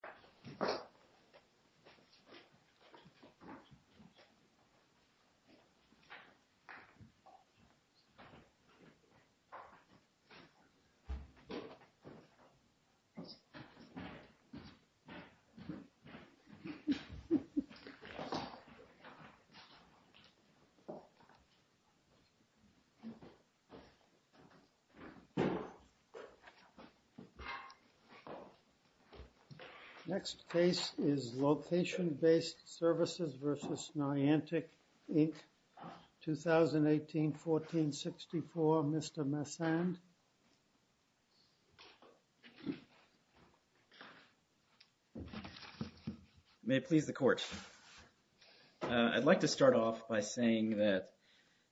v. Niantic, Inc. v. Niantic, Next case is Location Based Services v. Niantic, Inc., 2018-14-64. Mr. Messand. May it please the Court. I'd like to start off by saying that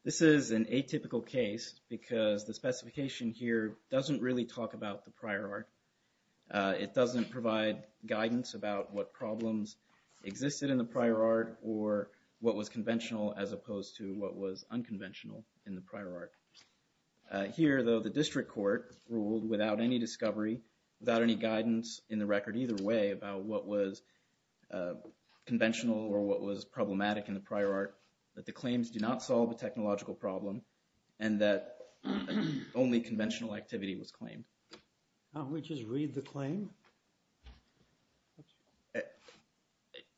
this is an atypical case because the specification here doesn't really talk about the prior art. It doesn't provide guidance about what problems existed in the prior art or what was conventional as opposed to what was unconventional in the prior art. Here, though, the district court ruled without any discovery, without any guidance in the record either way about what was conventional or what was problematic in the prior art, that the claims do not solve a technological problem and that only conventional activity was claimed. Can't we just read the claim?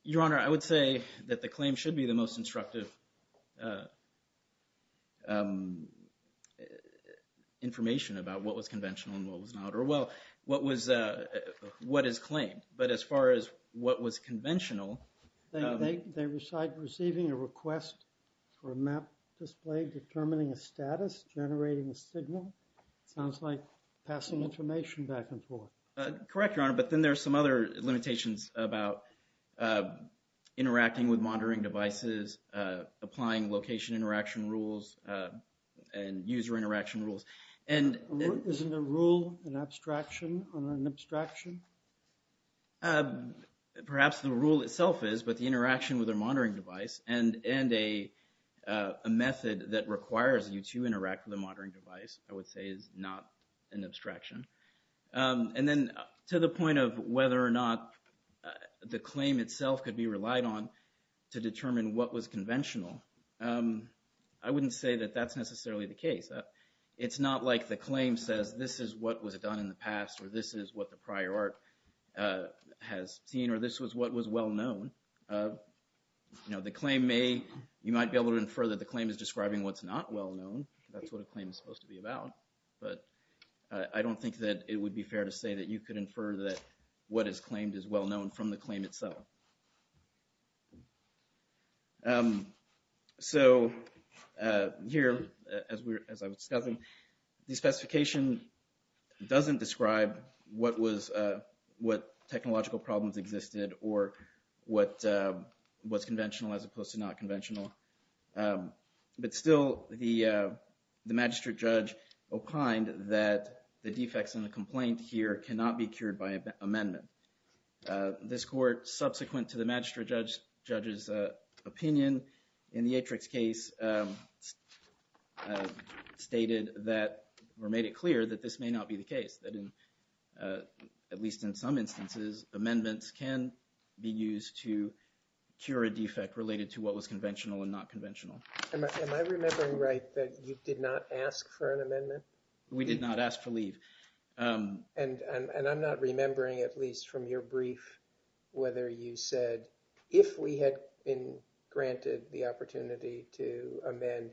Your Honor, I would say that the claim should be the most instructive information about what was conventional and what was not. Well, what is claimed? But as far as what was conventional. They recite receiving a request for a map display determining a status, generating a signal. It sounds like passing information back and forth. Correct, Your Honor, but then there are some other limitations about interacting with monitoring devices, applying location interaction rules and user interaction rules. Isn't a rule an abstraction or an abstraction? Perhaps the rule itself is, but the interaction with a monitoring device and a method that requires you to interact with a monitoring device I would say is not an abstraction. And then to the point of whether or not the claim itself could be relied on to determine what was conventional, I wouldn't say that that's necessarily the case. It's not like the claim says this is what was done in the past or this is what the prior art has seen or this was what was well known. You know, the claim may, you might be able to infer that the claim is describing what's not well known. That's what a claim is supposed to be about, but I don't think that it would be fair to say that you could infer that what is claimed is well known from the claim itself. So here, as I was discussing, the specification doesn't describe what was, what technological problems existed or what was conventional as opposed to not conventional. But still, the magistrate judge opined that the defects in the complaint here cannot be cured by amendment. This court, subsequent to the magistrate judge's opinion in the Atrix case, stated that or made it clear that this may not be the case. That in, at least in some instances, amendments can be used to cure a defect related to what was conventional and not conventional. Am I remembering right that you did not ask for an amendment? We did not ask for leave. And I'm not remembering, at least from your brief, whether you said, if we had been granted the opportunity to amend,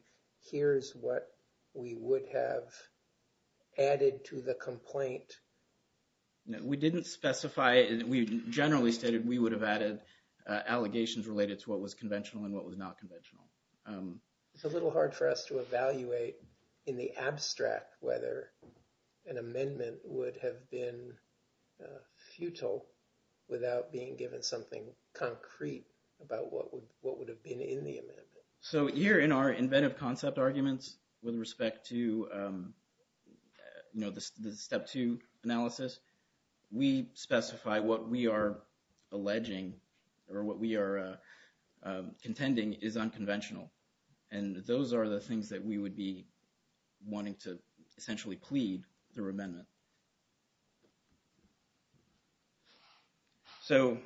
here's what we would have added to the complaint. We didn't specify it. We generally stated we would have added allegations related to what was conventional and what was not conventional. It's a little hard for us to evaluate in the abstract whether an amendment would have been futile without being given something concrete about what would have been in the amendment. So here in our inventive concept arguments with respect to, you know, the step two analysis, we specify what we are alleging or what we are contending is unconventional. And those are the things that we would be wanting to essentially plead through amendment. So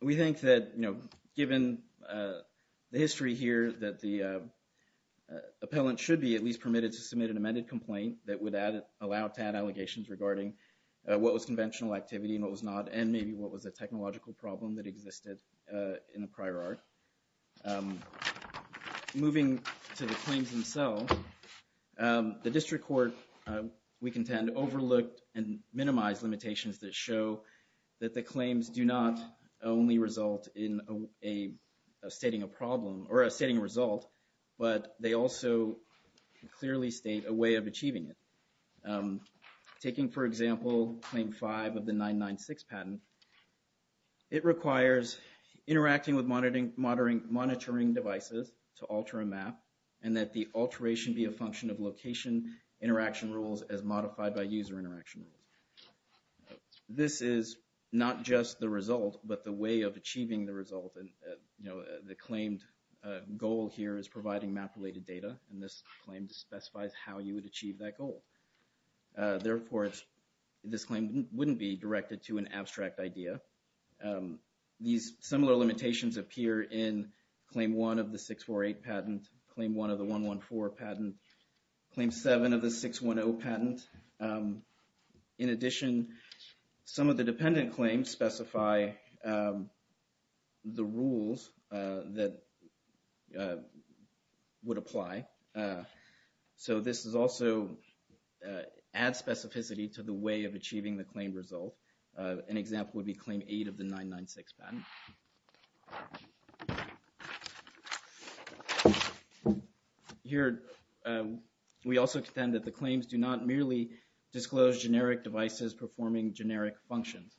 we think that, you know, given the history here that the appellant should be at least permitted to submit an amended complaint that would allow to add allegations regarding what was conventional activity and what was not, and maybe what was a technological problem that existed in the prior art. Moving to the claims themselves, the district court, we contend, overlooked and minimized limitations that show that the claims do not only result in a stating a problem or a stating a result, but they also clearly state a way of achieving it. Taking, for example, Claim 5 of the 996 patent, it requires interacting with monitoring devices to alter a map and that the alteration be a function of location interaction rules as modified by user interaction rules. This is not just the result, but the way of achieving the result and, you know, the claimed goal here is providing map-related data, and this claim specifies how you would achieve that goal. Therefore, this claim wouldn't be directed to an abstract idea. These similar limitations appear in Claim 1 of the 648 patent, Claim 1 of the 114 patent, Claim 7 of the 610 patent. In addition, some of the dependent claims specify the rules that would apply. So, this is also adds specificity to the way of achieving the claim result. An example would be Claim 8 of the 996 patent. Here we also contend that the claims do not merely disclose generic devices performing generic functions.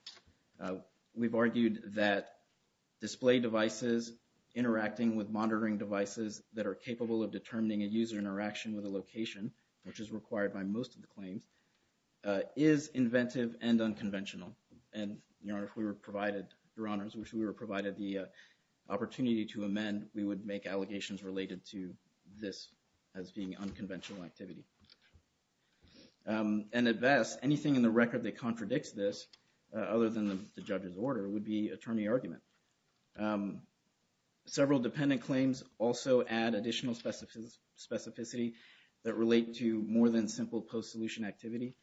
We've argued that display devices interacting with monitoring devices that are capable of providing a user interaction with a location, which is required by most of the claims, is inventive and unconventional, and, Your Honors, if we were provided the opportunity to amend, we would make allegations related to this as being unconventional activity. And at best, anything in the record that contradicts this, other than the judge's order, would be attorney argument. Several dependent claims also add additional specificity that relate to more than simple post-solution activity.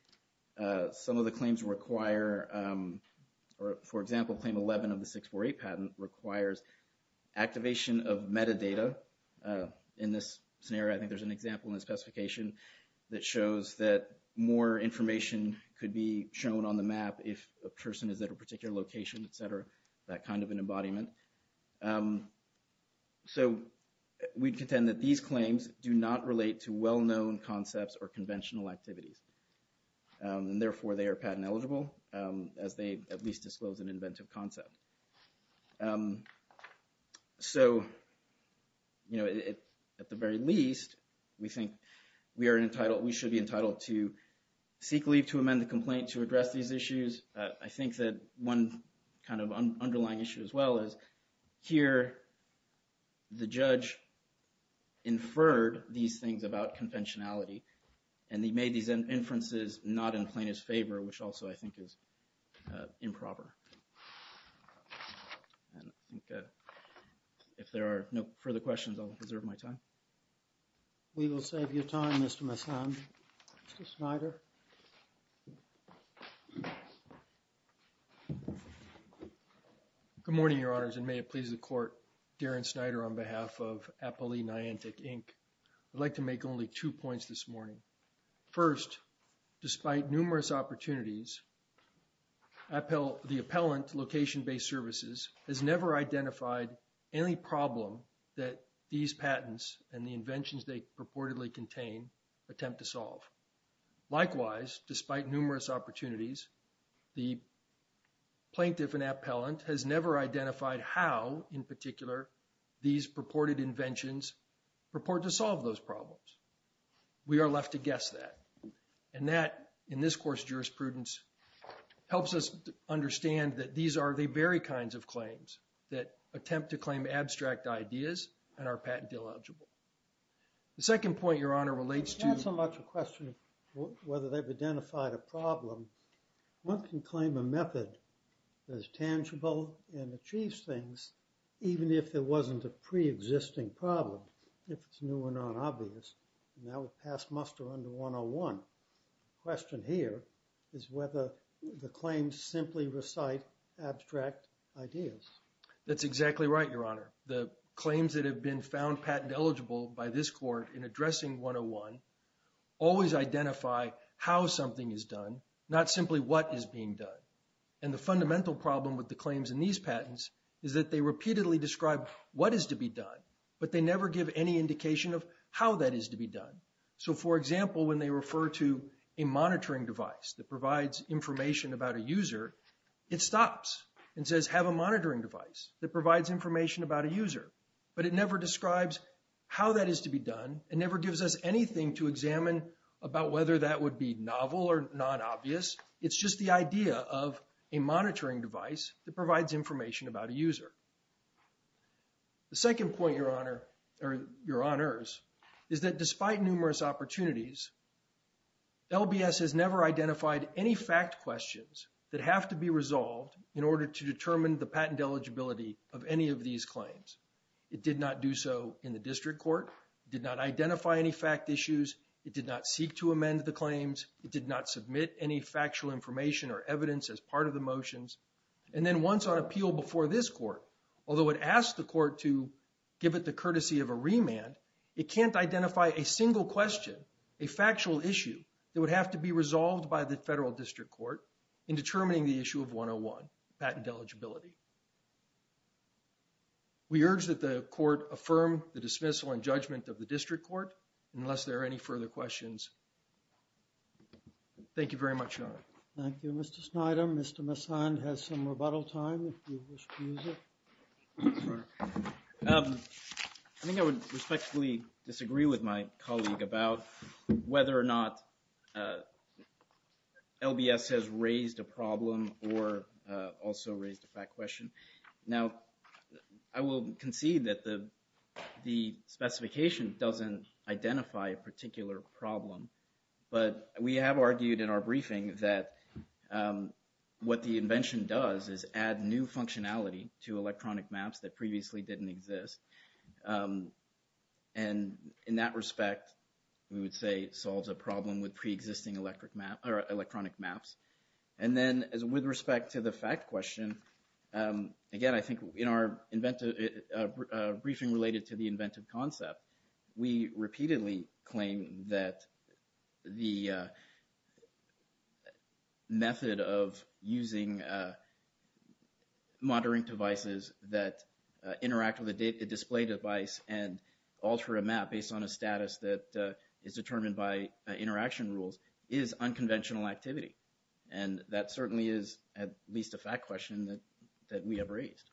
Some of the claims require, for example, Claim 11 of the 648 patent requires activation of metadata. In this scenario, I think there's an example in the specification that shows that more information could be shown on the map if a person is at a particular location, et cetera, that kind of an embodiment. So we contend that these claims do not relate to well-known concepts or conventional activities, and therefore they are patent eligible, as they at least disclose an inventive concept. So at the very least, we think we are entitled, we should be entitled to seek leave to amend the complaint to address these issues. I think that one kind of underlying issue as well is here, the judge inferred these things about conventionality, and he made these inferences not in plaintiff's favor, which also I think is improper. And I think if there are no further questions, I'll reserve my time. We will save your time, Mr. Messam. Mr. Snyder. Good morning, Your Honors, and may it please the Court, Darren Snyder on behalf of Appellee Niantic, Inc. I'd like to make only two points this morning. First, despite numerous opportunities, the appellant, Location-Based Services, has never identified any problem that these patents and the inventions they purportedly contain attempt to solve. Likewise, despite numerous opportunities, the plaintiff and appellant has never identified how, in particular, these purported inventions purport to solve those problems. We are left to guess that. And that, in this course of jurisprudence, helps us understand that these are the very kinds of claims that attempt to claim abstract ideas and are patent-illegible. The second point, Your Honor, relates to… It's not so much a question of whether they've identified a problem. One can claim a method that is tangible and achieves things, even if there wasn't a pre-existing problem, if it's new or not obvious. And that would pass muster under 101. The question here is whether the claims simply recite abstract ideas. That's exactly right, Your Honor. The claims that have been found patent-eligible by this Court in addressing 101 always identify how something is done, not simply what is being done. And the fundamental problem with the claims in these patents is that they repeatedly describe what is to be done, but they never give any indication of how that is to be done. So, for example, when they refer to a monitoring device that provides information about a user, it stops and says, have a monitoring device that provides information about a user. But it never describes how that is to be done. It never gives us anything to examine about whether that would be novel or not obvious. It's just the idea of a monitoring device that provides information about a user. The second point, Your Honor, or Your Honors, is that despite numerous opportunities, LBS has never identified any fact questions that have to be resolved in order to determine the patent eligibility of any of these claims. It did not do so in the District Court. It did not identify any fact issues. It did not seek to amend the claims. It did not submit any factual information or evidence as part of the motions. And then once on appeal before this Court, although it asked the Court to give it the courtesy of a remand, it can't identify a single question, a factual issue, that would have to be resolved by the Federal District Court in determining the issue of 101, patent eligibility. We urge that the Court affirm the dismissal and judgment of the District Court, unless there are any further questions. Thank you very much, Your Honor. Thank you, Mr. Snyder. Mr. Messand has some rebuttal time, if you wish to use it. I think I would respectfully disagree with my colleague about whether or not LBS has raised a problem or also raised a fact question. Now, I will concede that the specification doesn't identify a particular problem, but we have argued in our briefing that what the invention does is add new functionality to electronic maps that previously didn't exist. And in that respect, we would say it solves a problem with preexisting electronic maps. And then with respect to the fact question, again, I think in our briefing related to the inventive concept, we repeatedly claim that the method of using monitoring devices that interact with a display device and alter a map based on a status that is determined by interaction rules is unconventional activity. And that certainly is at least a fact question that we have raised.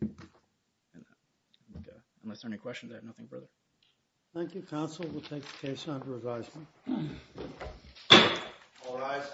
And unless there are any questions, I have nothing further. Thank you, counsel. We'll take the case under advisement. All rise.